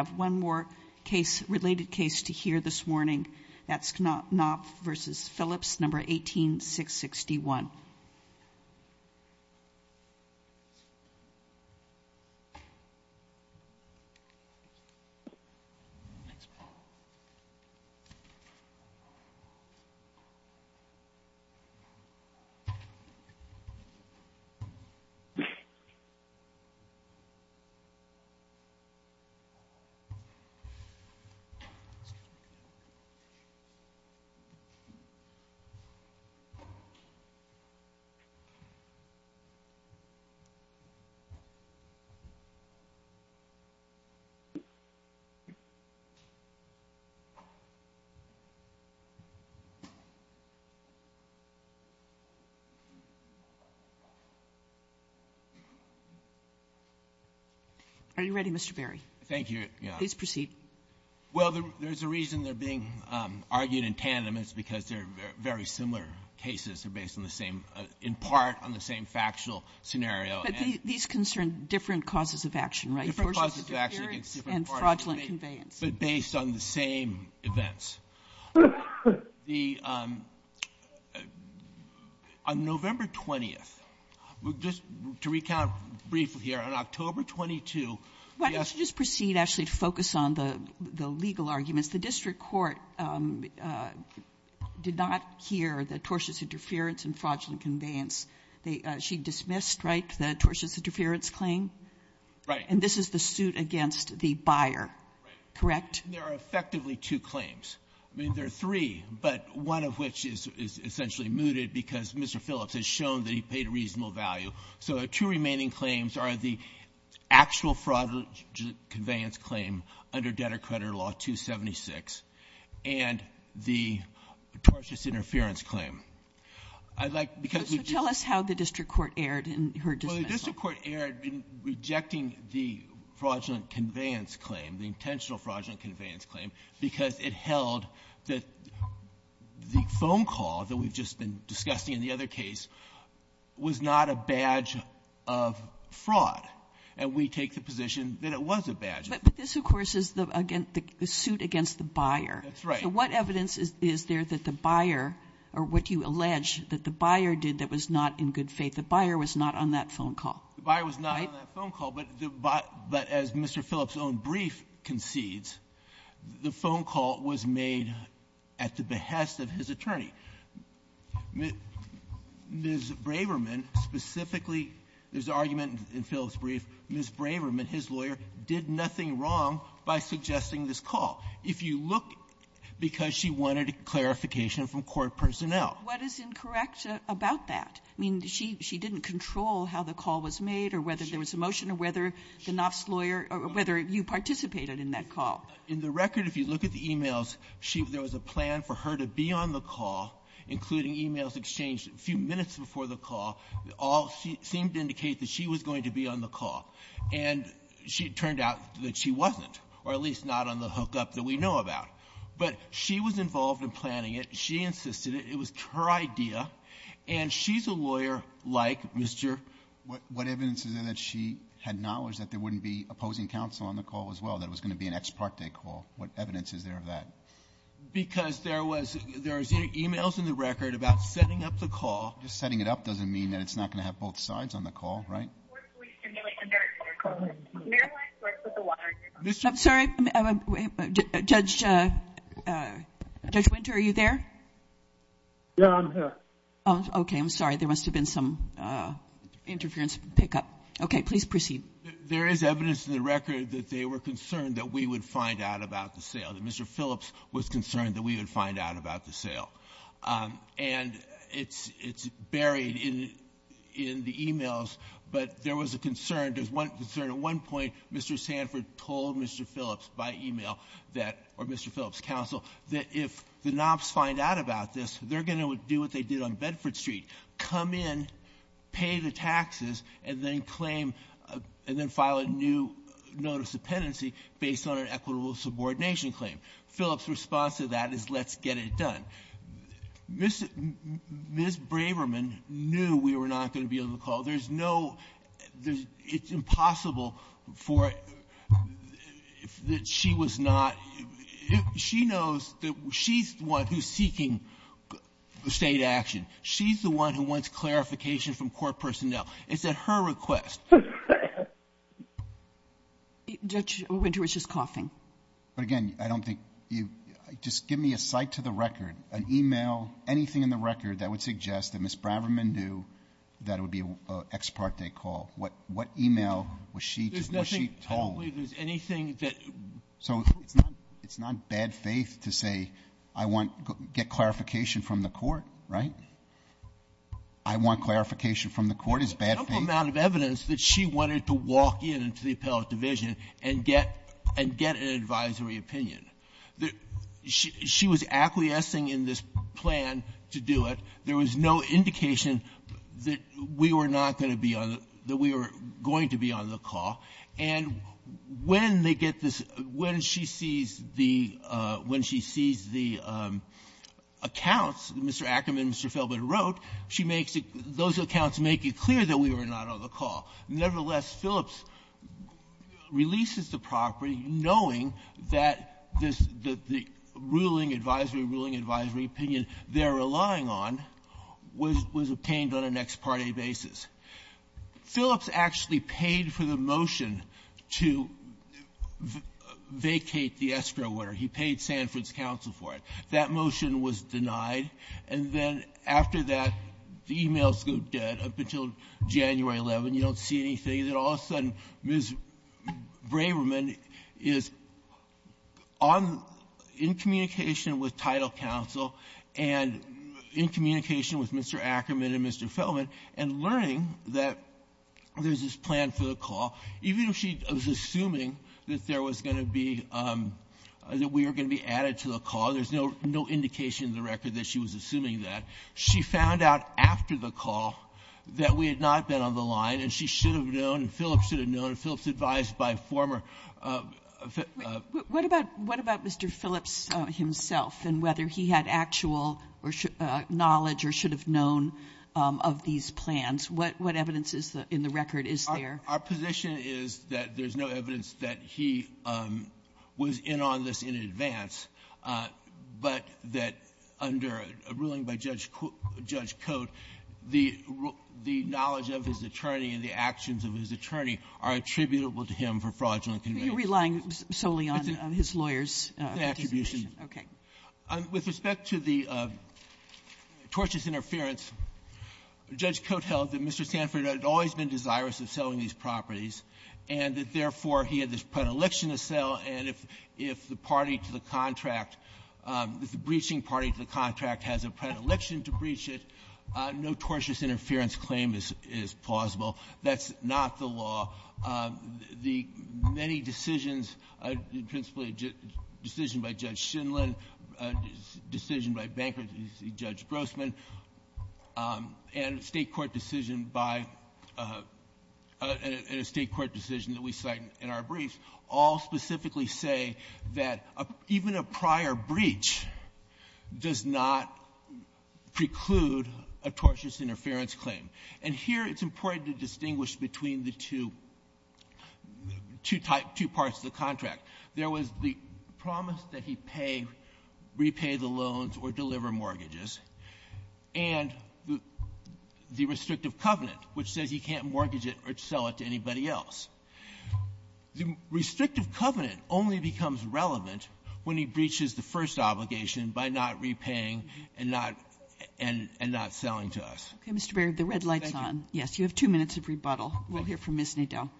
We have one more case related case to hear this morning. That's Knopf v. Phillips, number 18661. Are you ready, Mr. Berry? Thank you. Please proceed. Well, there's a reason they're being argued in tandem. It's because they're very similar cases. They're based on the same, in part, on the same factual scenario. But these concern different causes of action, right? Different causes of action against different parties. And fraudulent conveyance. But based on the same events. The — on November 20th, just to recount briefly here, on October 22, we asked to just proceed, actually, to focus on the legal arguments. The district court did not hear the tortious interference and fraudulent conveyance. They — she dismissed, right, the tortious interference claim? Right. And this is the suit against the buyer, correct? There are effectively two claims. I mean, there are three, but one of which is essentially mooted because Mr. Phillips has shown that he paid a reasonable value. So the two remaining claims are the actual fraudulent conveyance claim under Debtor Creditor Law 276 and the tortious interference claim. I'd like — because we just — So tell us how the district court erred in her dismissal. Well, the district court erred in rejecting the fraudulent conveyance claim, the intentional fraudulent conveyance claim, because it held that the phone call that we've just been discussing in the other case was not a badge of fraud. And we take the position that it was a badge. But this, of course, is the — again, the suit against the buyer. That's right. So what evidence is there that the buyer, or what you allege that the buyer did that was not in good faith? The buyer was not on that phone call, right? The buyer was not on that phone call. But the — but as Mr. Phillips' own brief concedes, the phone call was made at the behest of his attorney. Ms. Braverman specifically — there's an argument in Phillips' brief. Ms. Braverman, his lawyer, did nothing wrong by suggesting this call. If you look — because she wanted clarification from court personnel. What is incorrect about that? I mean, she — she didn't control how the call was made or whether there was a motion or whether the Knopf's lawyer — or whether you participated in that call. In the record, if you look at the e-mails, she — there was a plan for her to be on the call, including e-mails exchanged a few minutes before the call. All seemed to indicate that she was going to be on the call. And she turned out that she wasn't, or at least not on the hookup that we know about. But she was involved in planning it. She insisted it. It was her idea. And she's a lawyer like Mr. — What evidence is there that she had knowledge that there wouldn't be opposing counsel on the call as well? That it was going to be an ex parte call? What evidence is there of that? Because there was — there's e-mails in the record about setting up the call. Just setting it up doesn't mean that it's not going to have both sides on the call, right? I'm sorry. Judge — Judge Winter, are you there? Yeah, I'm here. Okay. I'm sorry. There must have been some interference pick-up. Okay. Please proceed. There is evidence in the record that they were concerned that we would find out about the sale, that Mr. Phillips was concerned that we would find out about the sale. And it's — it's buried in — in the e-mails. But there was a concern. There's one concern. At one point, Mr. Sanford told Mr. Phillips by e-mail that — or Mr. Phillips' counsel that if the knobs find out about this, they're going to do what they did on Bedford Street, come in, pay the taxes, and then claim — and then file a new notice of penancy based on an equitable subordination claim. Phillips' response to that is, let's get it done. Ms. Braverman knew we were not going to be able to call. There's no — there's — it's impossible for — that she was not — she knows that she's the one who's seeking State action. She's the one who wants clarification from court personnel. It's at her request. Judge Winter is just coughing. But again, I don't think you — just give me a cite to the record, an e-mail, anything in the record that would suggest that Ms. Braverman knew that it would be an ex parte call. What — what e-mail was she — was she told? There's nothing — I don't believe there's anything that — So it's not — it's not bad faith to say, I want — get clarification from the court, right? I want clarification from the court. It's bad faith. There's ample amount of evidence that she wanted to walk in into the appellate division and get — and get an advisory opinion. She was acquiescing in this plan to do it. There was no indication that we were not going to be on — that we were going to be on the call. And when they get this — when she sees the — when she sees the accounts, Mr. Ackerman and Mr. Feldman wrote, she makes it — those accounts make it clear that we were not on the call. Nevertheless, Phillips releases the property knowing that this — that the ruling advisory, ruling advisory opinion they're relying on was — was obtained on an ex parte basis. Phillips actually paid for the motion to vacate the escrow order. He paid Sanford's counsel for it. That motion was denied. And then after that, the emails go dead up until January 11. You don't see anything. Then all of a sudden, Ms. Braverman is on — in communication with title counsel and in communication with Mr. Ackerman and Mr. Feldman and learning that there's this plan for the call. Even if she was assuming that there was going to be — that we were going to be added to the call, there's no — no indication in the record that she was assuming that. She found out after the call that we had not been on the line and she should have known and Phillips should have known. Phillips advised by former — What about — what about Mr. Phillips himself and whether he had actual knowledge or should have known of these plans? What — what evidence is in the record is there? Our position is that there's no evidence that he was in on this in advance, but that under a ruling by Judge — Judge Cote, the — the knowledge of his attorney and the actions of his attorney are attributable to him for fraudulent convictions. Are you relying solely on his lawyer's — Attribution. Okay. With respect to the tortious interference, Judge Cote held that Mr. Sanford had always been desirous of selling these properties, and that, therefore, he had this predilection to sell, and if the party to the contract — if the breaching party to the contract has a predilection to breach it, no tortious interference claim is — is plausible. That's not the law. The many decisions, principally a decision by Judge Shindlin, a decision by Bankruptcy Judge Grossman, and a State court decision by — and a State court decision that we cite in our briefs all specifically say that even a prior breach does not preclude a tortious interference claim. And here, it's important to distinguish between the two — two type — two parts of the contract. There was the promise that he pay — repay the loans or deliver mortgages, and the — the restrictive covenant, which says he can't mortgage it or sell it to anybody else. The restrictive covenant only becomes relevant when he breaches the first obligation by not repaying and not — and not selling to us. Okay. Mr. Berry, the red light's on. Thank you. Thank you. We'll hear from Ms. Nadel.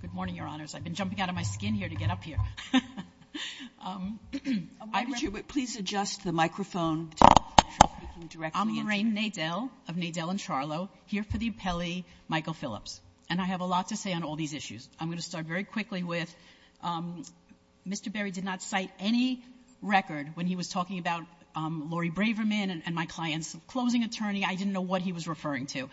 Good morning, Your Honors. I've been jumping out of my skin here to get up here. Why don't you please adjust the microphone to make sure I'm speaking directly into it. I'm Lorraine Nadel of Nadel & Charlo, here for the appellee, Michael Phillips. And I have a lot to say on all these issues. I'm going to start very quickly with Mr. Berry did not cite any record when he was talking about Laurie Braverman and my client's closing attorney. I didn't know what he was referring to.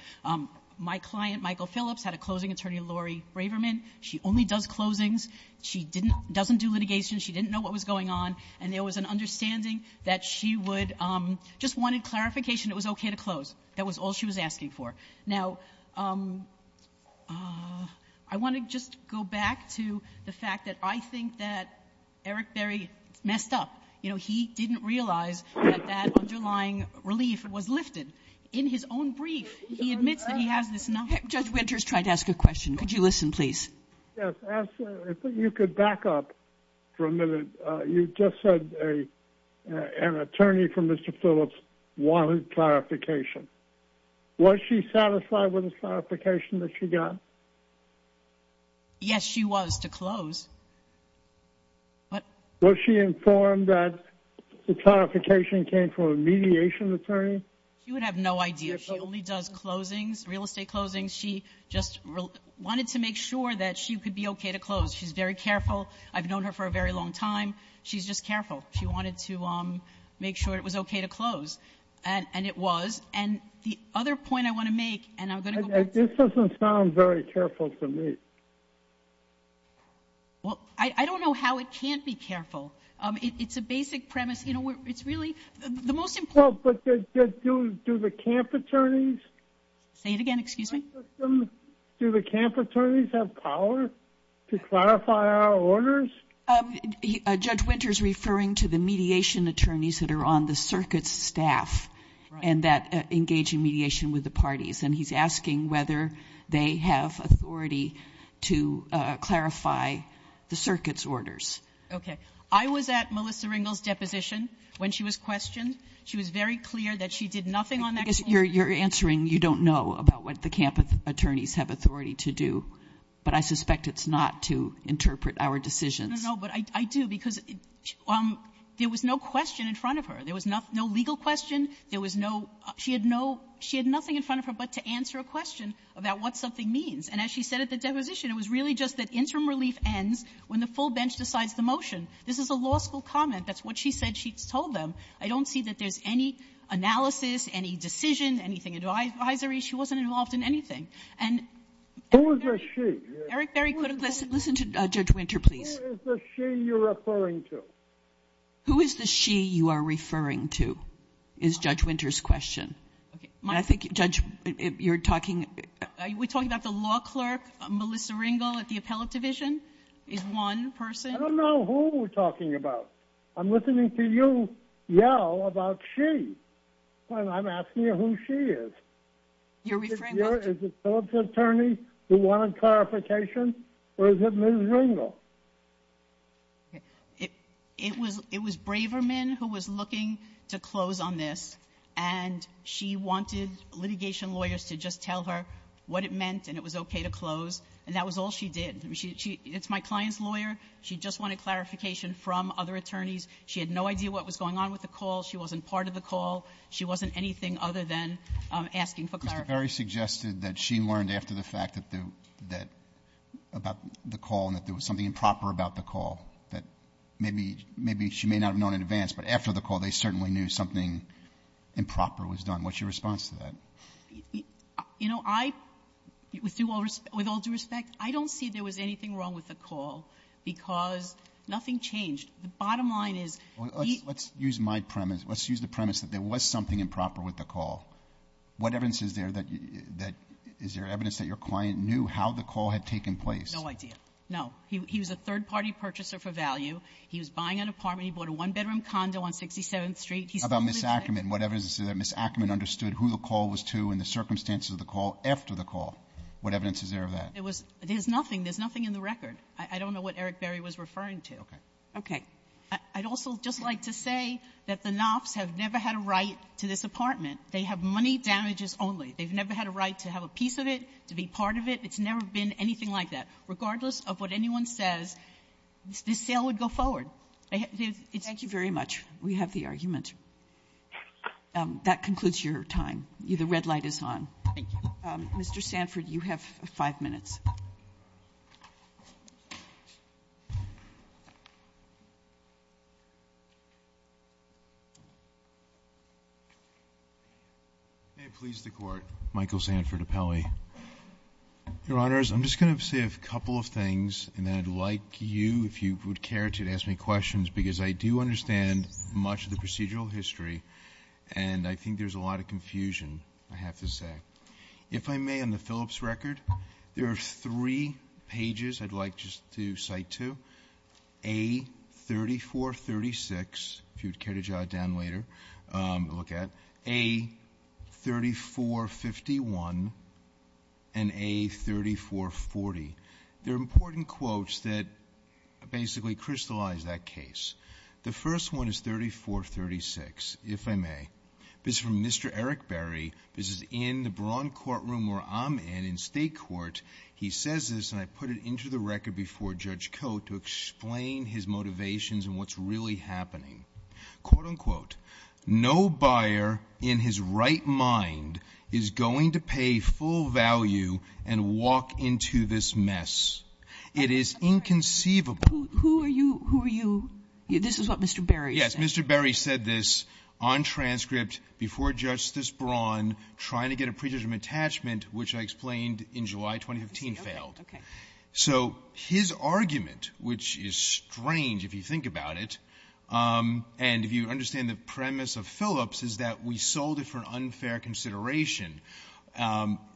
My client, Michael Phillips, had a closing attorney, Laurie Braverman. She only does closings. She didn't — doesn't do litigation. She didn't know what was going on. And there was an understanding that she would just wanted clarification it was okay to close. That was all she was asking for. Now, I want to just go back to the fact that I think that Eric Berry messed up. You know, he didn't realize that that underlying relief was lifted. In his own brief, he admits that he has this — Judge Winters tried to ask a question. Could you listen, please? Yes. I think you could back up for a minute. You just said an attorney for Mr. Phillips wanted clarification. Was she satisfied with the clarification that she got? Yes, she was, to close. What? Was she informed that the clarification came from a mediation attorney? She would have no idea. She only does closings, real estate closings. She just wanted to make sure that she could be okay to close. She's very careful. I've known her for a very long time. She's just careful. She wanted to make sure it was okay to close. And it was. And the other point I want to make — This doesn't sound very careful to me. Well, I don't know how it can't be careful. It's a basic premise. You know, it's really — Well, but do the camp attorneys — Say it again. Excuse me? Do the camp attorneys have power to clarify our orders? Judge Winter is referring to the mediation attorneys that are on the circuit's staff and that engage in mediation with the parties. And he's asking whether they have authority to clarify the circuit's orders. Okay. I was at Melissa Ringel's deposition when she was questioned. She was very clear that she did nothing on that court. You're answering you don't know about what the camp attorneys have authority to do. But I suspect it's not to interpret our decisions. No, but I do, because there was no question in front of her. There was no legal question. There was no — she had no — she had nothing in front of her but to answer a question about what something means. And as she said at the deposition, it was really just that interim relief ends when the full bench decides the motion. This is a law school comment. That's what she said she told them. I don't see that there's any analysis, any decision, anything advisory. She wasn't involved in anything. And — Who is the she? Eric, very quickly, listen to Judge Winter, please. Who is the she you're referring to? Who is the she you are referring to is Judge Winter's question. I think, Judge, you're talking — are we talking about the law clerk, Melissa Ringel at the appellate division is one person? I don't know who we're talking about. I'm listening to you yell about she when I'm asking you who she is. You're referring — Is it Phillips's attorney who wanted clarification, or is it Ms. Ringel? It was Braverman who was looking to close on this, and she wanted litigation lawyers to just tell her what it meant and it was okay to close, and that was all she did. I mean, she — it's my client's lawyer. She just wanted clarification from other attorneys. She had no idea what was going on with the call. She wasn't part of the call. She wasn't anything other than asking for clarification. Mr. Berry suggested that she learned after the fact that — about the call and that there was something improper about the call, that maybe she may not have known in advance, but after the call they certainly knew something improper was done. What's your response to that? You know, I — with all due respect, I don't see there was anything wrong with the call because nothing changed. The bottom line is — Let's use my premise. Let's use the premise that there was something improper with the call. What evidence is there that — is there evidence that your client knew how the call had taken place? No idea. No. He was a third-party purchaser for value. He was buying an apartment. He bought a one-bedroom condo on 67th Street. How about Ms. Ackerman? What evidence is there that Ms. Ackerman understood who the call was to and the circumstances of the call after the call? What evidence is there of that? It was — there's nothing. There's nothing in the record. I don't know what Eric Berry was referring to. Okay. Okay. I'd also just like to say that the Knopfs have never had a right to this apartment. They have money damages only. They've never had a right to have a piece of it, to be part of it. It's never been anything like that. Regardless of what anyone says, this sale would go forward. Thank you very much. We have the argument. That concludes your time. The red light is on. Thank you. Mr. Sanford, you have five minutes. May it please the Court. Michael Sanford of Pelley. Your Honors, I'm just going to say a couple of things, and then I'd like you, if you would care to, to ask me questions, because I do understand much of the procedural history, and I think there's a lot of confusion, I have to say. If I may, on the Phillips record, there are three pages I'd like just to cite to. A3436, if you would care to jot it down later, look at. A3451 and A3440. They're important quotes that basically crystallize that case. The first one is A3436, if I may. This is from Mr. Eric Berry. This is in the Braun courtroom where I'm in, in state court. He says this, and I put it into the record before Judge Cote to explain his motivations and what's really happening. Quote, unquote, no buyer in his right mind is going to pay full value and walk into this mess. It is inconceivable. Who are you? This is what Mr. Berry said. Yes, Mr. Berry said this on transcript before Justice Braun, trying to get a pre-judgment attachment, which I explained in July 2015 failed. So his argument, which is strange if you think about it, and if you understand the premise of Phillips, is that we sold it for an unfair consideration.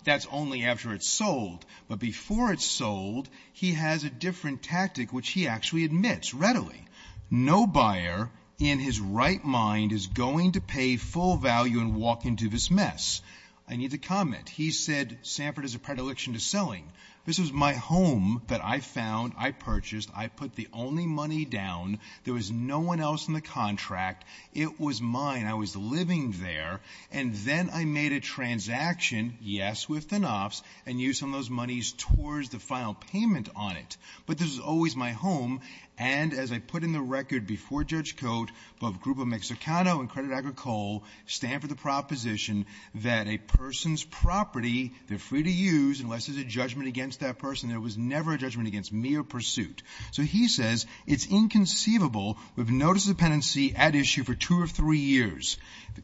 That's only after it's sold. But before it's sold, he has a different tactic, which he actually admits readily. No buyer in his right mind is going to pay full value and walk into this mess. I need to comment. He said Sanford is a predilection to selling. This is my home that I found, I purchased, I put the only money down. There was no one else in the contract. It was mine. I was living there. And then I made a transaction, yes, with the Knopf's, and used some of those monies towards the final payment on it. But this is always my home. And as I put in the record before Judge Cote, both Grupo Mexicano and Credit Agricole stand for the proposition that a person's property, they're free to use unless there's a judgment against that person. There was never a judgment against me or pursuit. So he says it's inconceivable. We've noticed dependency at issue for two or three years.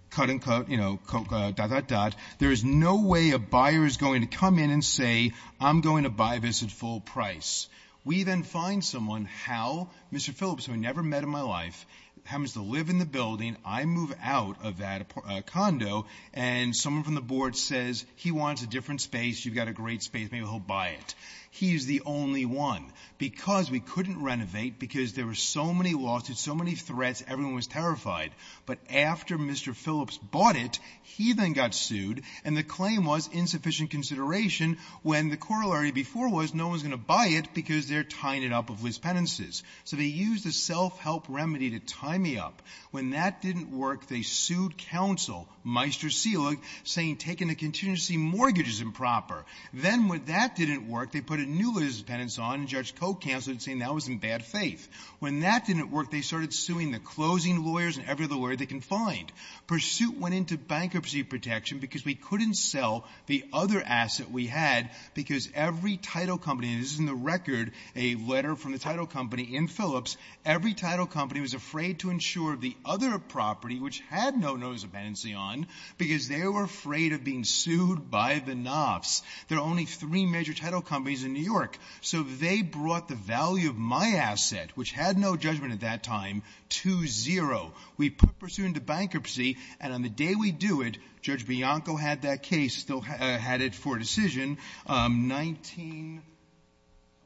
Cut and cut, you know, dot, dot, dot. There is no way a buyer is going to come in and say, I'm going to buy this at full price. We then find someone, Hal, Mr. Phillips, who I never met in my life, happens to live in the building. I move out of that condo, and someone from the board says, he wants a different space. You've got a great space. Maybe he'll buy it. He's the only one. Because we couldn't renovate, because there were so many losses, so many threats, everyone was terrified. But after Mr. Phillips bought it, he then got sued, and the claim was insufficient consideration when the corollary before was no one's going to buy it because they're tying it up with liaise penances. So they used a self-help remedy to tie me up. When that didn't work, they sued counsel, Meister Selig, saying taking a contingency mortgage is improper. Then when that didn't work, they put a new liaise penance on, and Judge Coe canceled it, saying that was in bad faith. When that didn't work, they started suing the closing lawyers and every other lawyer they can find. Pursuit went into bankruptcy protection because we couldn't sell the other asset we had because every title company, and this is in the record, a letter from the title company in Phillips, every title company was afraid to insure the other property, which had no notice of penancy on, because they were afraid of being sued by the NAFs. There are only three major title companies in New York, so they brought the value of my asset, which had no judgment at that time, to zero. We put pursuit into bankruptcy, and on the day we do it, Judge Bianco had that case, still had it for decision. Um, 19...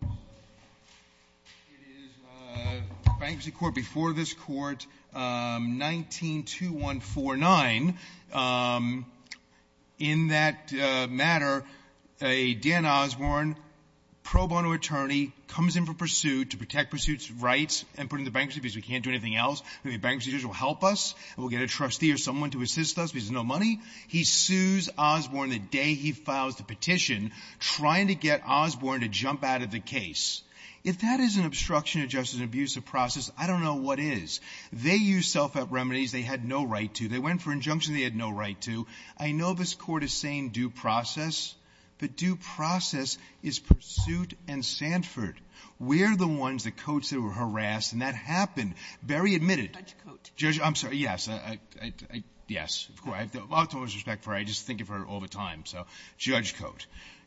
It is, uh, Bankruptcy Court before this Court, um, 19-2149. Um, in that, uh, matter, a Dan Osborne pro bono attorney comes in for pursuit to protect pursuit's rights and put it into bankruptcy because we can't do anything else. Maybe a bankruptcy judge will help us. We'll get a trustee or someone to assist us because there's no money. He sues Osborne the day he files the petition, trying to get Osborne to jump out of the case. If that is an obstruction to justice and abuse of process, I don't know what is. They used self-help remedies they had no right to. They went for injunction they had no right to. I know this Court is saying due process, but due process is pursuit and Sanford. We're the ones that Cote said were harassed, and that happened. Berry admitted... Judge Cote. Judge, I'm sorry, yes, I, I, I, yes. Of course, I have the utmost respect for her. I just think of her all the time, so Judge Cote.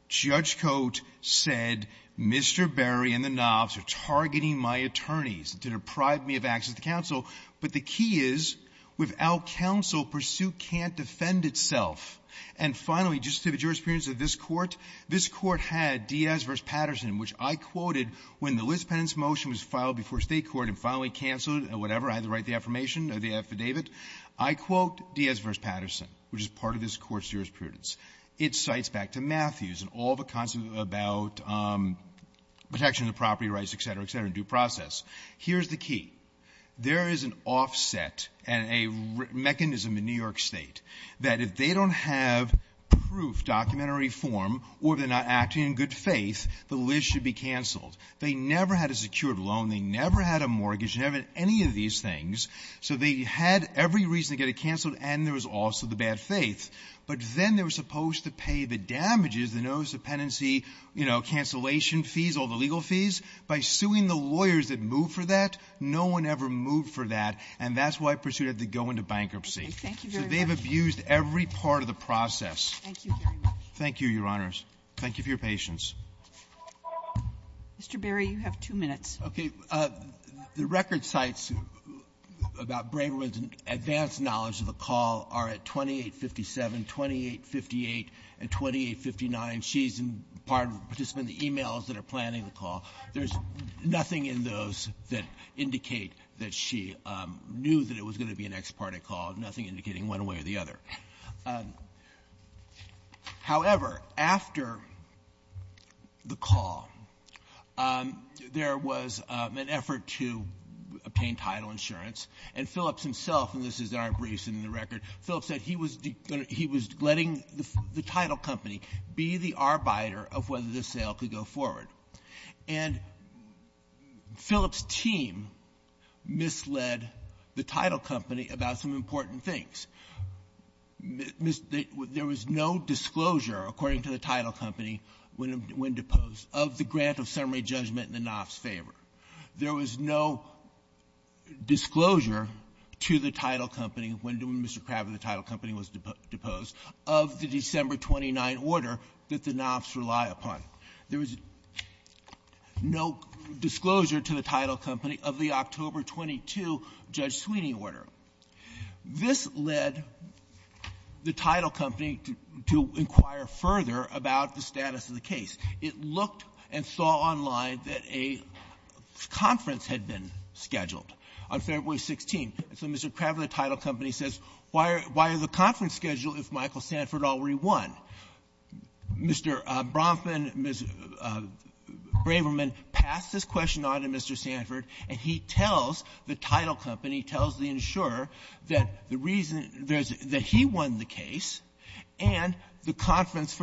Judge Cote said, Mr. Berry and the knobs are targeting my attorneys to deprive me of access to counsel, but the key is, without counsel, pursuit can't defend itself. And finally, just to the jurisprudence of this Court, this Court had Diaz v. Patterson, which I quoted when the Liz Penance motion was filed before state court and finally canceled, or whatever, I had to write the affirmation, or the affidavit. I quote Diaz v. Patterson, which is part of this Court's jurisprudence. It cites back to Matthews, and all the concepts about protection of property rights, etc., etc., and due process. Here's the key. There is an offset and a mechanism in New York State that if they don't have proof, documentary form, or they're not acting in good faith, the Liz should be canceled. They never had a secured loan. They never had a mortgage. They never had any of these things. So they had every reason to get it canceled, and there was also the bad faith. But then they were supposed to pay the damages, the notice of penancy, cancellation fees, all the legal fees, by suing the lawyers that moved for that. No one ever moved for that, and that's why Pursuit had to go into bankruptcy. So they've abused every part of the process. Thank you, Your Honors. Thank you for your patience. Mr. Berry, you have two minutes. Okay. The record cites about Braverman's advanced knowledge of the call are at 2857, 2858, and 2859. She's part of the participants of the e-mails that are planning the call. There's nothing in those that indicate that she knew that it was going to be an ex parte call, nothing indicating one way or the other. However, after the call, there was an effort to obtain title insurance, and Phillips himself, and this is our briefs in the record, Phillips said he was letting the title company be the arbiter of whether the sale could go forward. And Phillips' team misled the title company about some important things. There was no disclosure, according to the title company, when deposed, of the grant of summary judgment in the NAF's favor. There was no disclosure to the title company when Mr. Craver, the title company, was deposed, of the December 29 order that the NAF's had to rely upon. There was no disclosure to the title company of the October 22 Judge Sweeney order. This led the title company to inquire further about the status of the case. It looked and saw online that a conference had been scheduled on February 16. So Mr. Craver, the title company, says, why are the conference scheduled if Michael Sanford already won? Mr. Bronfman, Mr. Braverman, passed this question on to Mr. Sanford, and he tells the title company, tells the insurer, that the reason that he won the case and the conference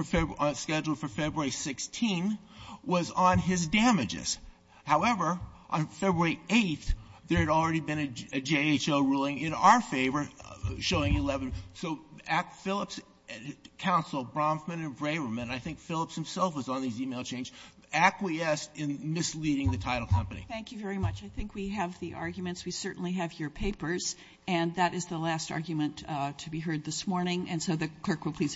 scheduled for February 16 was on his damages. However, on February 8, there had already been a JHO ruling in our favor showing 11. So Philips, Counsel, Bronfman and Braverman, I think Philips himself was on these email changes, acquiesced in misleading the title company. Thank you very much. I think we have the arguments. We certainly have your papers and that is the last argument to be heard this morning. And so the clerk will please adjourn.